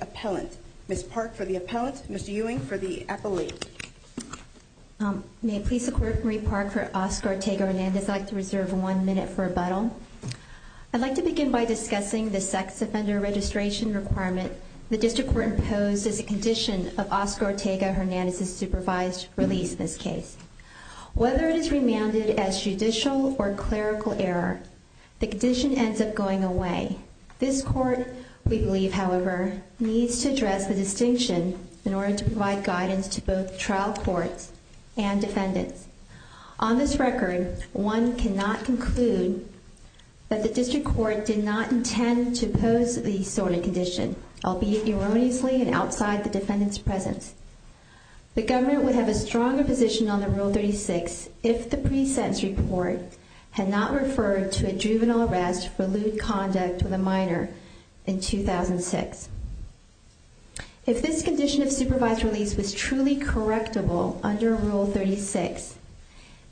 Appellant. Ms. Park for the Appellant, Mr. Ewing for the Appellate. May it please the Court, Marie Park for Oscar Ortega-Hernandez. I'd like to reserve one minute for rebuttal. I'd like to begin by discussing the sex offender registration requirement. The District Court imposes a condition of Oscar Ortega-Hernandez's supervised release in this case. Whether it is remanded as judicial or clerical error, the condition ends up going away. This Court, we believe, however, needs to address the distinction in order to provide guidance to both trial courts and defendants. On this record, one cannot conclude that the District Court did not intend to pose the sort of condition, albeit erroneously and wrongly, on the Rule 36 if the pre-sentence report had not referred to a juvenile arrest for lewd conduct with a minor in 2006. If this condition of supervised release was truly correctable under Rule 36,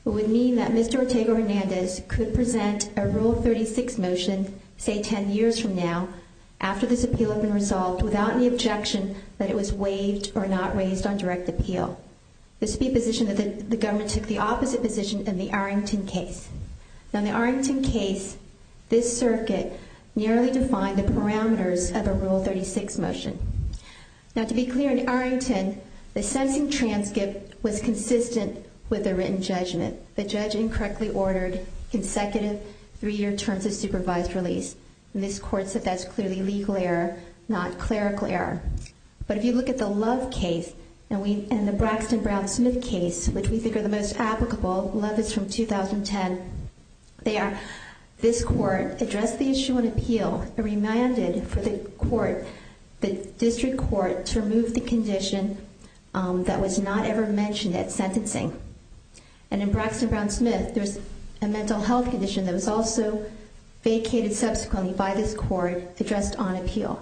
it would mean that Mr. Ortega-Hernandez could present a Rule 36 motion, say 10 years from now, after this appeal had been resolved without any objection that it was waived or not raised on direct appeal. This would be a position that the government took the opposite position in the Arrington case. Now, in the Arrington case, this circuit nearly defined the parameters of a Rule 36 motion. Now, to be clear, in Arrington, the sentencing transcript was consistent with the written judgment. The judge incorrectly ordered consecutive three-year terms of supervised release, and this Court said that's clearly legal error, not clerical error. But if you look at the Love case and the Braxton-Brown-Smith case, which we think are the most applicable, Love is from 2010, this Court addressed the issue on appeal and remanded for the District Court to remove the condition that was not ever mentioned at sentencing. And in Braxton-Brown-Smith, there's a mental health condition that was also vacated subsequently by this Court, addressed on appeal.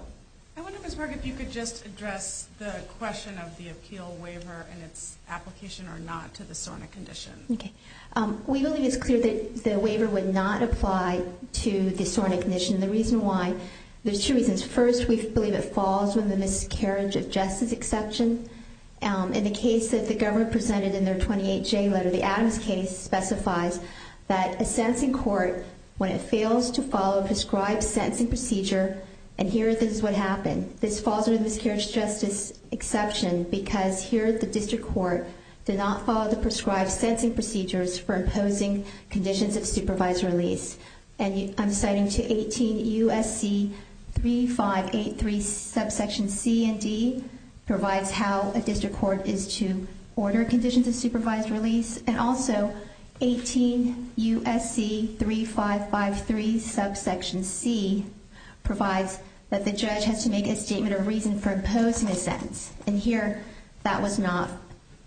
I wonder, Ms. Berg, if you could just address the question of the appeal waiver and its application or not to the SORNA condition. Okay. We believe it's clear that the waiver would not apply to the SORNA condition. The reason why, there's two reasons. First, we believe it falls within the miscarriage of justice exception. In the case that the government presented in their 28J letter, the Adams case specifies that a sentencing court, when it fails to follow a prescribed sentencing procedure, and here this is what happened, this falls under the miscarriage of justice exception because here the District Court did not follow the prescribed sentencing procedures for imposing conditions of supervised release. And I'm citing to 18 U.S.C. 3583 subsection C and provides how a District Court is to order conditions of supervised release. And also 18 U.S.C. 3553 subsection C provides that the judge has to make a statement of reason for imposing a sentence. And here that was not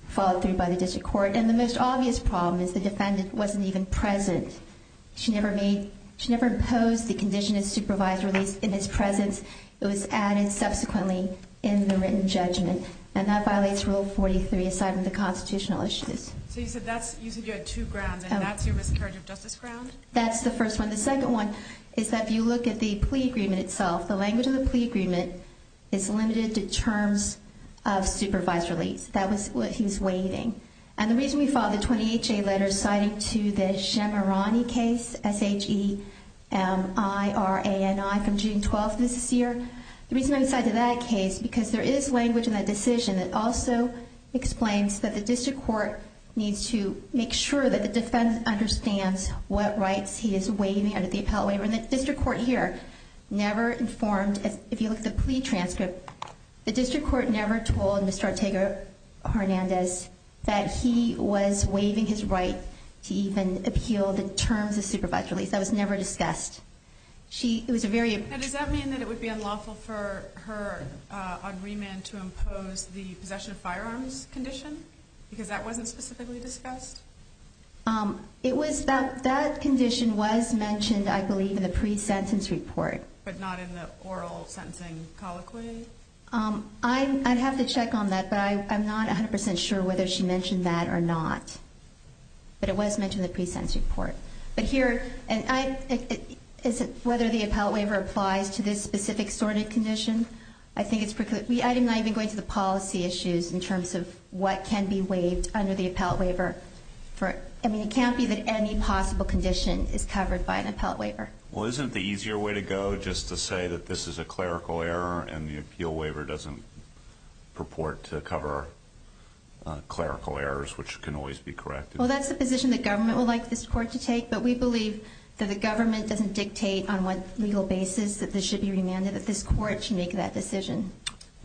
followed through by the District Court. And the most obvious problem is the defendant wasn't even present. She never imposed the And that violates Rule 43, aside from the constitutional issues. So you said you had two grounds, and that's your miscarriage of justice ground? That's the first one. The second one is that if you look at the plea agreement itself, the language of the plea agreement is limited to terms of supervised release. That was what he was waiving. And the reason we filed the 28J letter citing to the Shemirani case, S-H-E-M-I-R-A-N-I from June 12th of this year, the reason I cited that case, because there is language in that decision that also explains that the District Court needs to make sure that the defendant understands what rights he is waiving under the appellate waiver. And the District Court here never informed, if you look at the plea transcript, the District Court never told Mr. Ortega-Hernandez that he was waiving his right to even appeal the terms of supervised release. That was never discussed. And does that mean that it would be unlawful for her on remand to impose the possession of firearms condition? Because that wasn't specifically discussed? That condition was mentioned, I believe, in the pre-sentence report. But not in the oral sentencing colloquy? I'd have to check on that, but I'm not 100% sure whether she mentioned that or not. But it was mentioned in the pre-sentence report. But here, whether the appellate waiver applies to this specific sort of condition, I think it's precluded. I'm not even going to the policy issues in terms of what can be waived under the appellate waiver. I mean, it can't be that any possible condition is covered by an appellate waiver. Well, isn't the easier way to go just to say that this is a clerical error and the Well, that's the position the government would like this court to take, but we believe that the government doesn't dictate on what legal basis that this should be remanded, that this court should make that decision.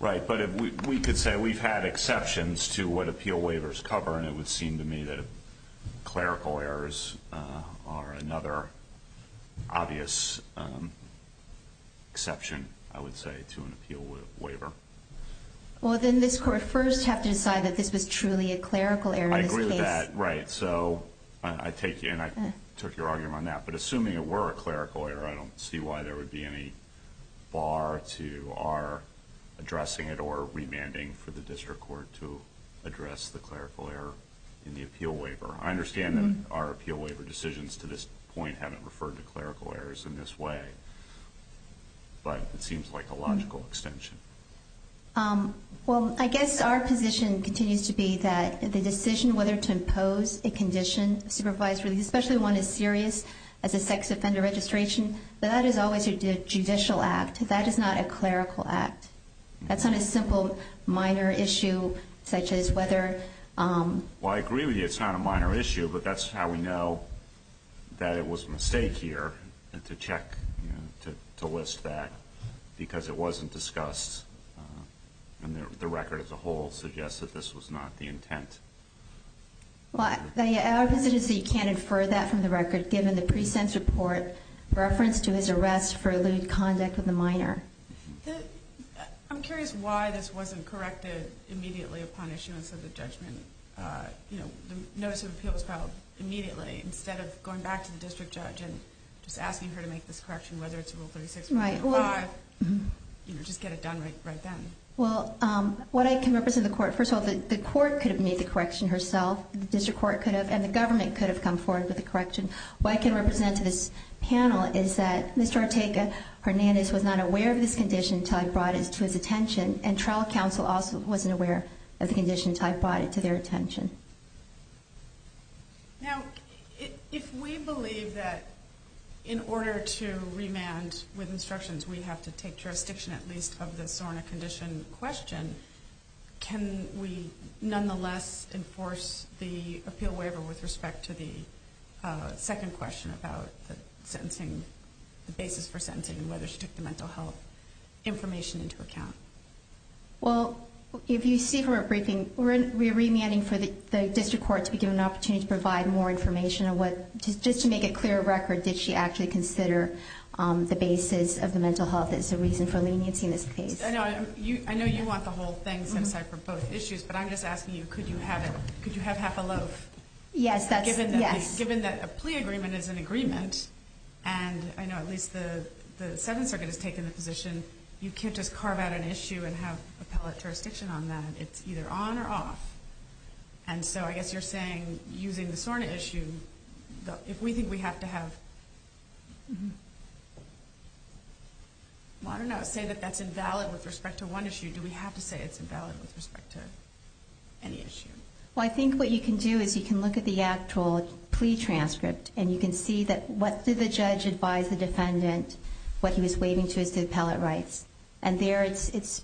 Right, but we could say we've had exceptions to what appeal waivers cover, and it would seem to me that clerical errors are another obvious exception, I would say, to an appeal waiver. Well, then this court would first have to decide that this was truly a clerical error in this case. I agree with that, right. So I take you, and I took your argument on that. But assuming it were a clerical error, I don't see why there would be any bar to our addressing it or remanding for the district court to address the clerical error in the appeal waiver. I understand that our appeal waiver decisions to this point haven't referred to clerical errors in this way, but it seems like a logical extension. Well, I guess our position continues to be that the decision whether to impose a condition supervised release, especially one as serious as a sex offender registration, that is always a judicial act. That is not a clerical act. That's not a simple minor issue such as whether Well, I agree with you, it's not a minor issue, but that's how we know that it was a mistake here to check, to list that, because it wasn't discussed and the record as a whole suggests that this was not the intent. Well, our position is that you can't infer that from the record given the pre-sentence report reference to his arrest for eluded conduct with a minor. I'm curious why this wasn't corrected immediately upon issuance of the judgment. The notice of appeal was filed immediately instead of going back to the district judge and just asking her to make this correction, whether it's Rule 36.5, you know, just get it done right then. Well, what I can represent to the court, first of all, the court could have made the correction herself, the district court could have, and the government could have come forward with the correction. What I can represent to this panel is that Mr. Ortega-Hernandez was not aware of this condition until I brought it to his attention, and trial counsel also wasn't aware of the condition until I brought it to their attention. Now, if we believe that in order to remand with instructions we have to take jurisdiction at least of the SORNA condition question, can we nonetheless enforce the appeal waiver with respect to the second question about the sentencing, the basis for sentencing and whether she took the mental health information into account? Well, if you see from our briefing, we're remanding for the district court to be given an opportunity to provide more information on what, just to make it clear of record, did she actually consider the basis of the mental health as a reason for leniency in this case? I know you want the whole thing set aside for both issues, but I'm just asking you, could you have it, could you have half a loaf? Yes, that's, yes. Given that a plea agreement is an agreement, and I know at least the Seventh Circuit has an issue and have appellate jurisdiction on that, it's either on or off, and so I guess you're saying using the SORNA issue, if we think we have to have, I don't know, say that that's invalid with respect to one issue, do we have to say it's invalid with respect to any issue? Well, I think what you can do is you can look at the actual plea transcript, and you can see that what did the judge advise the defendant, what he was waiving to his appellate rights, and there it's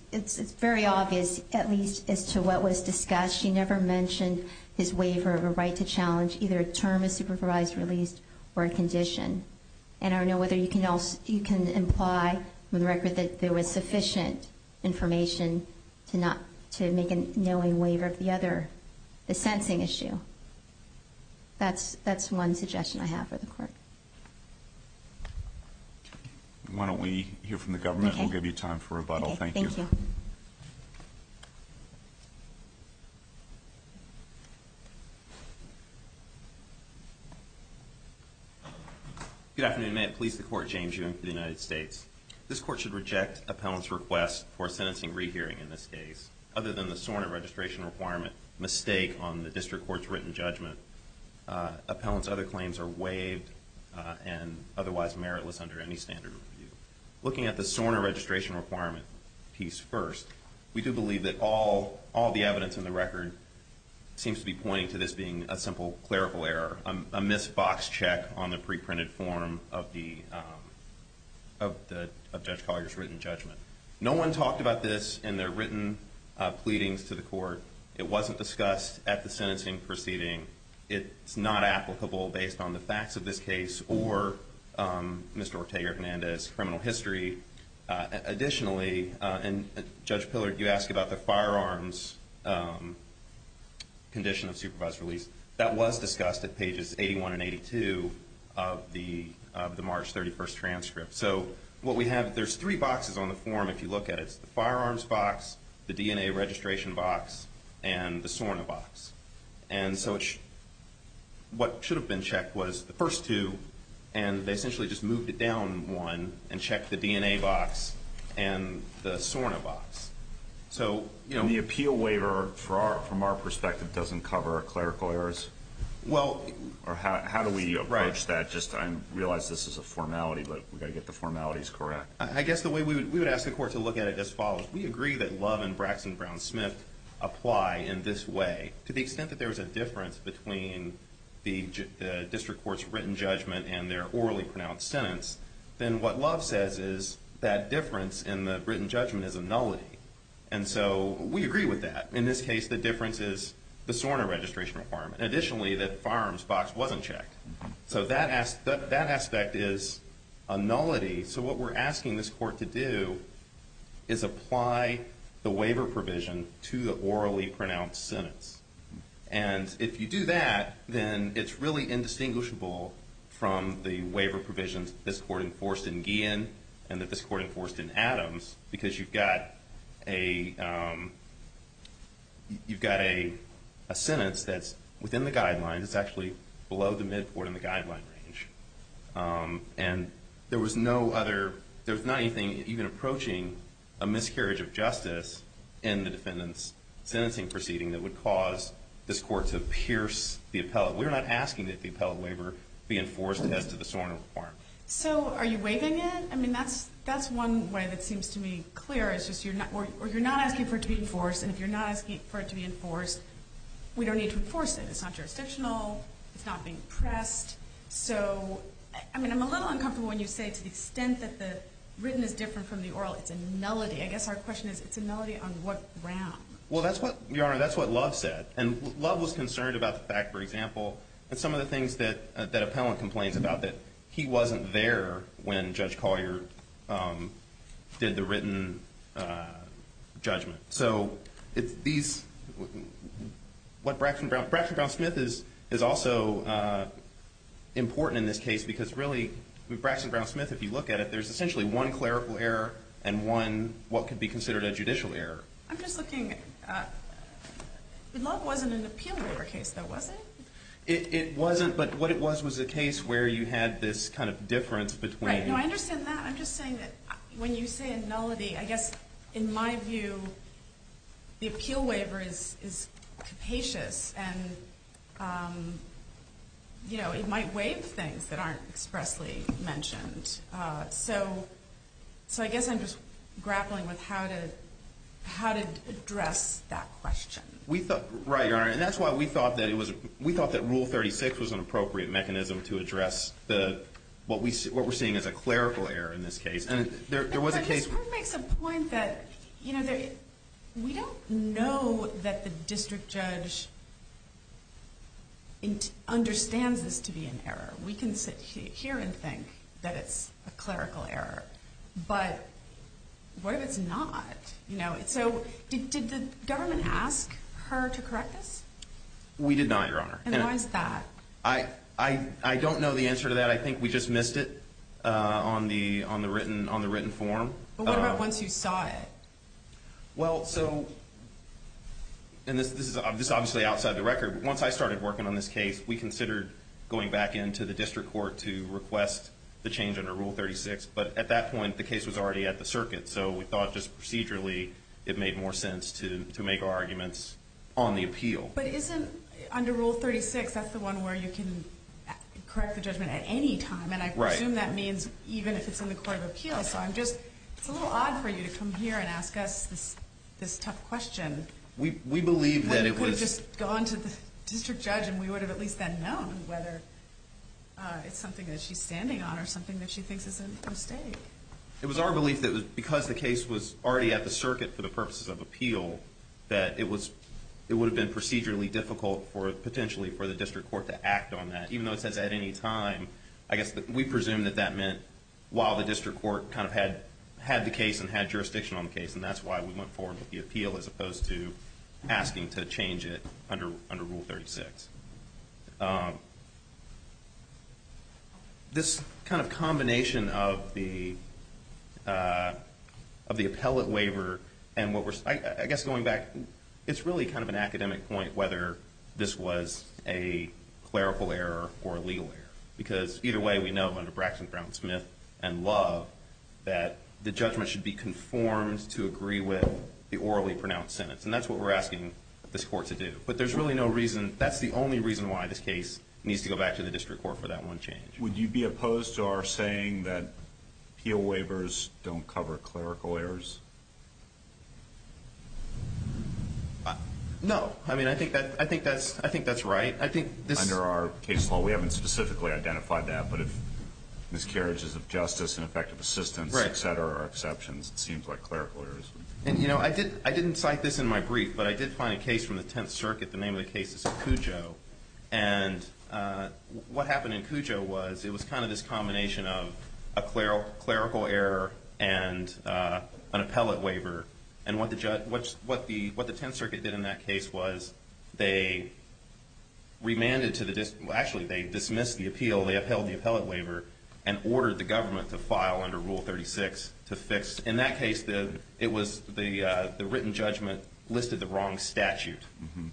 very obvious, at least as to what was discussed, he never mentioned his waiver of a right to challenge either a term of supervised release or a condition. And I don't know whether you can imply from the record that there was sufficient information to make a knowing waiver of the other, the sensing issue. Why don't we hear from the government? We'll give you time for rebuttal. Thank you. Thank you. Good afternoon. May it please the Court, James Ewing for the United States. This Court should reject appellant's request for sentencing rehearing in this case, other than the SORNA registration requirement mistake on the district court's written judgment. Appellant's other claims are waived and otherwise meritless under any standard review. Looking at the SORNA registration requirement piece first, we do believe that all the evidence in the record seems to be pointing to this being a simple clerical error, a missed box check on the preprinted form of Judge Collier's written judgment. No one talked about this in their written pleadings to the Court. It wasn't discussed at the sentencing proceeding. It's not applicable based on the facts of this case or Mr. Ortega Hernandez's criminal history. Additionally, and Judge Pillard, you asked about the firearms condition of supervised release. That was discussed at pages 81 and 82 of the March 31st transcript. So what we have, there's three boxes on the form if you look at it. It's the firearms box, the DNA registration box, and the SORNA box. And so what should have been checked was the first two, and they essentially just moved it down one and checked the DNA box and the SORNA box. And the appeal waiver, from our perspective, doesn't cover clerical errors? Or how do we approach that? I realize this is a formality, but we've got to get the formalities correct. I guess the way we would ask the Court to look at it as follows. We agree that Love and Braxton Brown-Smith apply in this way. To the extent that there is a difference between the district court's written judgment and their orally pronounced sentence, then what Love says is that difference in the written judgment is a nullity. And so we agree with that. In this case, the difference is the SORNA registration requirement. Additionally, the firearms box wasn't checked. So that aspect is a nullity. So what we're asking this Court to do is apply the waiver provision to the orally pronounced sentence. And if you do that, then it's really indistinguishable from the waiver provisions this Court enforced in Guillen and that this Court enforced in Adams, because you've got a sentence that's within the guidelines. It's actually below the mid-court in the guideline range. And there was not anything even approaching a miscarriage of justice in the defendant's sentencing proceeding that would cause this Court to pierce the appellate. We're not asking that the appellate waiver be enforced as to the SORNA requirement. So are you waiving it? I mean, that's one way that seems to me clear, is just you're not asking for it to be enforced. And if you're not asking for it to be enforced, we don't need to enforce it. It's not jurisdictional. It's not being pressed. So, I mean, I'm a little uncomfortable when you say to the extent that the written is different from the oral. It's a melody. I guess our question is, it's a melody on what ground? Well, Your Honor, that's what Love said. And Love was concerned about the fact, for example, that some of the things that appellant complains about, that he wasn't there when Judge Collier did the written judgment. So Braxton Brown-Smith is also important in this case, because really Braxton Brown-Smith, if you look at it, there's essentially one clerical error and one what could be considered a judicial error. I'm just looking. Love wasn't an appeal waiver case, though, was it? It wasn't. But what it was was a case where you had this kind of difference between. Right. No, I understand that. I'm just saying that when you say a melody, I guess in my view, the appeal waiver is capacious and it might waive things that aren't expressly mentioned. So I guess I'm just grappling with how to address that question. Right, Your Honor. And that's why we thought that rule 36 was an appropriate mechanism to address what we're seeing as a clerical error in this case. And there was a case. But this makes a point that we don't know that the district judge understands this to be an error. We can sit here and think that it's a clerical error. But what if it's not? So did the government ask her to correct this? We did not, Your Honor. And why is that? I don't know the answer to that. I think we just missed it on the written form. But what about once you saw it? Well, so, and this is obviously outside the record, but once I started working on this case, we considered going back into the district court to request the change under Rule 36. But at that point, the case was already at the circuit. So we thought just procedurally, it made more sense to make our arguments on the appeal. But isn't, under Rule 36, that's the one where you can correct the judgment at any time. Right. And I presume that means even if it's in the court of appeals. So I'm just, it's a little odd for you to come here and ask us this tough question. We believe that it was. We could have just gone to the district judge and we would have at least then known whether it's something that she's standing on or something that she thinks is a mistake. It was our belief that because the case was already at the circuit for the purposes of potentially for the district court to act on that. Even though it says at any time, I guess we presume that that meant while the district court kind of had the case and had jurisdiction on the case. And that's why we went forward with the appeal as opposed to asking to change it under Rule 36. This kind of combination of the appellate waiver and what we're, I guess going back, it's really kind of an academic point whether this was a clerical error or a legal error. Because either way we know under Braxton, Brown, and Smith and Love that the judgment should be conformed to agree with the orally pronounced sentence. And that's what we're asking this court to do. But there's really no reason, that's the only reason why this case needs to go back to the district court for that one change. Would you be opposed to our saying that appeal waivers don't cover clerical errors? No. I mean, I think that's right. Under our case law, we haven't specifically identified that. But if miscarriages of justice and effective assistance, et cetera, are exceptions, it seems like clerical errors. And, you know, I didn't cite this in my brief, but I did find a case from the 10th Circuit, the name of the case is Cujo. And what happened in Cujo was it was kind of this combination of a clerical error and an appellate waiver. And what the 10th Circuit did in that case was they remanded to the district, well, actually they dismissed the appeal, they upheld the appellate waiver, and ordered the government to file under Rule 36 to fix. In that case, it was the written judgment listed the wrong statute.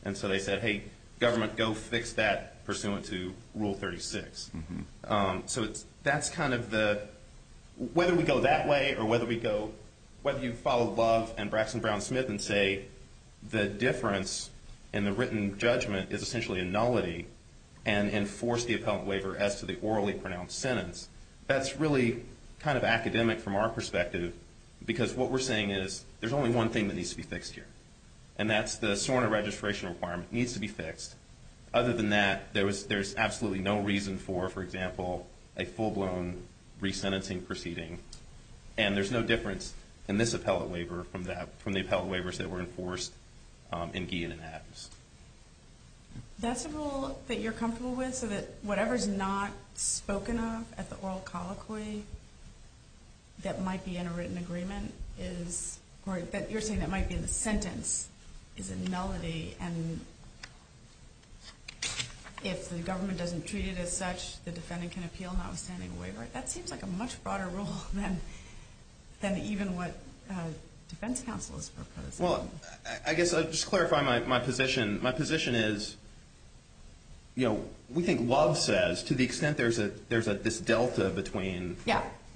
And so they said, hey, government, go fix that pursuant to Rule 36. So that's kind of the, whether we go that way or whether we go, whether you follow Love and Braxton Brown-Smith and say the difference in the written judgment is essentially a nullity and enforce the appellate waiver as to the orally pronounced sentence, that's really kind of academic from our perspective because what we're saying is there's only one thing that needs to be fixed here. And that's the SORNA registration requirement needs to be fixed. Other than that, there's absolutely no reason for, for example, a full-blown resentencing proceeding. And there's no difference in this appellate waiver from the appellate waivers that were enforced in Guillen and Adams. That's a rule that you're comfortable with so that whatever's not spoken of at the oral colloquy that might be in a written agreement is, or that you're saying that might be in the sentence, is a nullity. And if the government doesn't treat it as such, the defendant can appeal notwithstanding a waiver. That seems like a much broader rule than even what defense counsel is proposing. Well, I guess I'll just clarify my position. My position is, you know, we think Love says to the extent there's this delta between,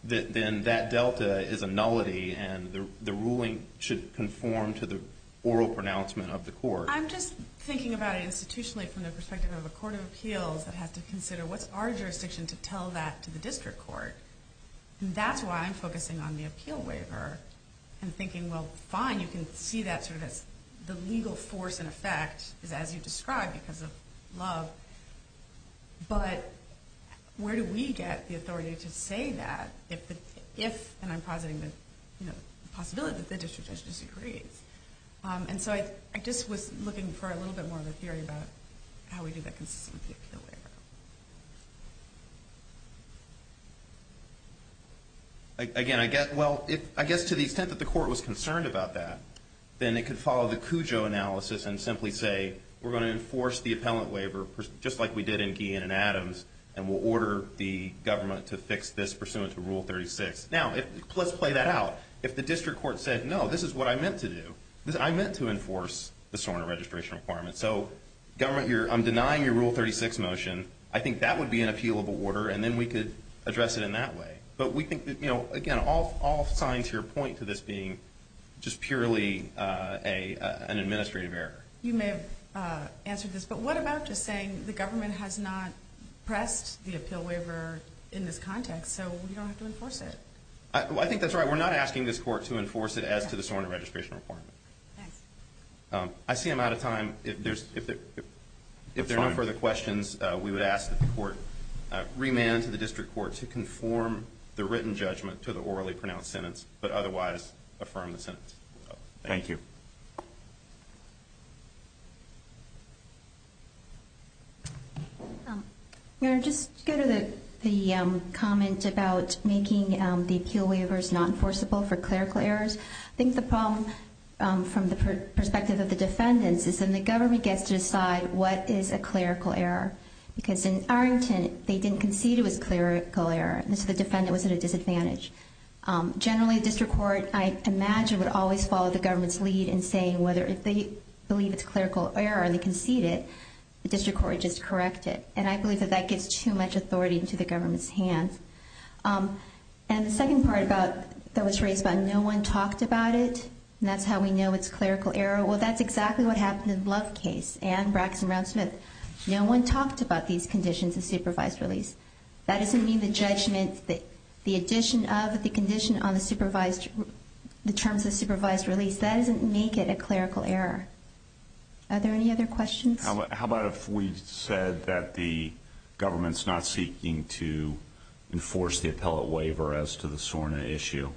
then that delta is a nullity and the ruling should conform to the oral pronouncement of the court. I'm just thinking about it institutionally from the perspective of a court of appeals that has to consider what's our jurisdiction to tell that to the district court. And that's why I'm focusing on the appeal waiver and thinking, well, fine. You can see that sort of as the legal force in effect is as you described because of Love. But where do we get the authority to say that if, and I'm positing the possibility that the district judge disagrees. And so I just was looking for a little bit more of a theory about how we do that consistent with the appeal waiver. Again, I guess, well, I guess to the extent that the court was concerned about that, then it could follow the Cujo analysis and simply say, we're going to enforce the appellant waiver just like we did in Guillen and Adams. And we'll order the government to fix this pursuant to rule 36. Now let's play that out. If the district court said, no, this is what I meant to do. I meant to enforce the Soren registration requirements. So government you're, I'm denying your rule 36 motion. I think that would be an appeal of order. And then we could address it in that way. But we think that, you know, again, all signs here point to this being just purely a, an administrative error. You may have answered this, but what about just saying the government has not pressed the appeal waiver in this context. So we don't have to enforce it. I think that's right. We're not asking this court to enforce it as to the Soren registration I see I'm out of time. If there's, if, if, if there are no further questions, we would ask that the court remand to the district court to conform the written judgment to the orally pronounced sentence, but otherwise affirm the sentence. Thank you. Just go to the, the comment about making the appeal waivers, not enforceable for clerical errors. I think the problem from the perspective of the defendants is in the government gets to decide what is a clerical error because in Arlington, they didn't concede it was clerical error. And so the defendant was at a disadvantage. Generally district court, I imagine would always follow the government's lead and saying whether if they believe it's clerical error or they concede it, the district court just correct it. And I believe that that gives too much authority into the government's hands. And the second part about that was raised by no one talked about it. And that's how we know it's clerical error. Well, that's exactly what happened in love case and Braxton round Smith. No one talked about these conditions of supervised release. That doesn't mean the judgment that the addition of the condition on the supervised, the terms of supervised release, doesn't make it a clerical error. Are there any other questions? How about, if we said that the government's not seeking to enforce the appellate waiver as to the SORNA issue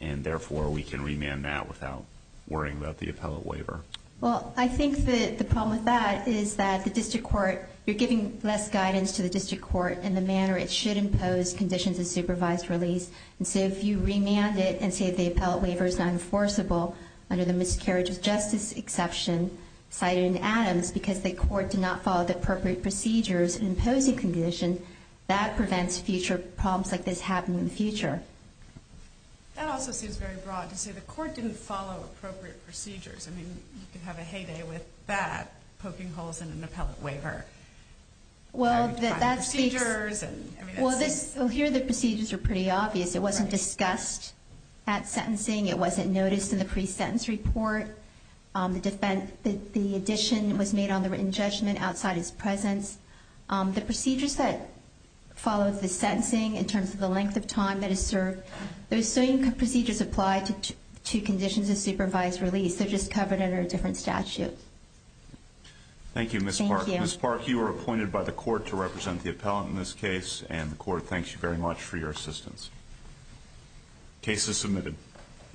and therefore we can remand that without worrying about the appellate waiver. Well, I think that the problem with that is that the district court, you're giving less guidance to the district court and the manner it should impose conditions of supervised release. And so if you remand it and say, the appellate waiver is not enforceable under the miscarriage of justice exception cited in Adams, because the court did not follow the appropriate procedures and imposing condition that prevents future problems like this happening in the future. That also seems very broad to say the court didn't follow appropriate procedures. I mean, you can have a heyday with that poking holes in an appellate waiver. Well, here, the procedures are pretty obvious. It wasn't discussed at sentencing. It wasn't noticed in the pre-sentence report. The defense, the addition was made on the written judgment outside his presence. The procedures that followed the sentencing in terms of the length of time that is served, those same procedures apply to two conditions of supervised release. They're just covered under a different statute. Thank you, Ms. Park. You were appointed by the court to represent the appellate in this case, and the court thanks you very much for your assistance. Cases submitted.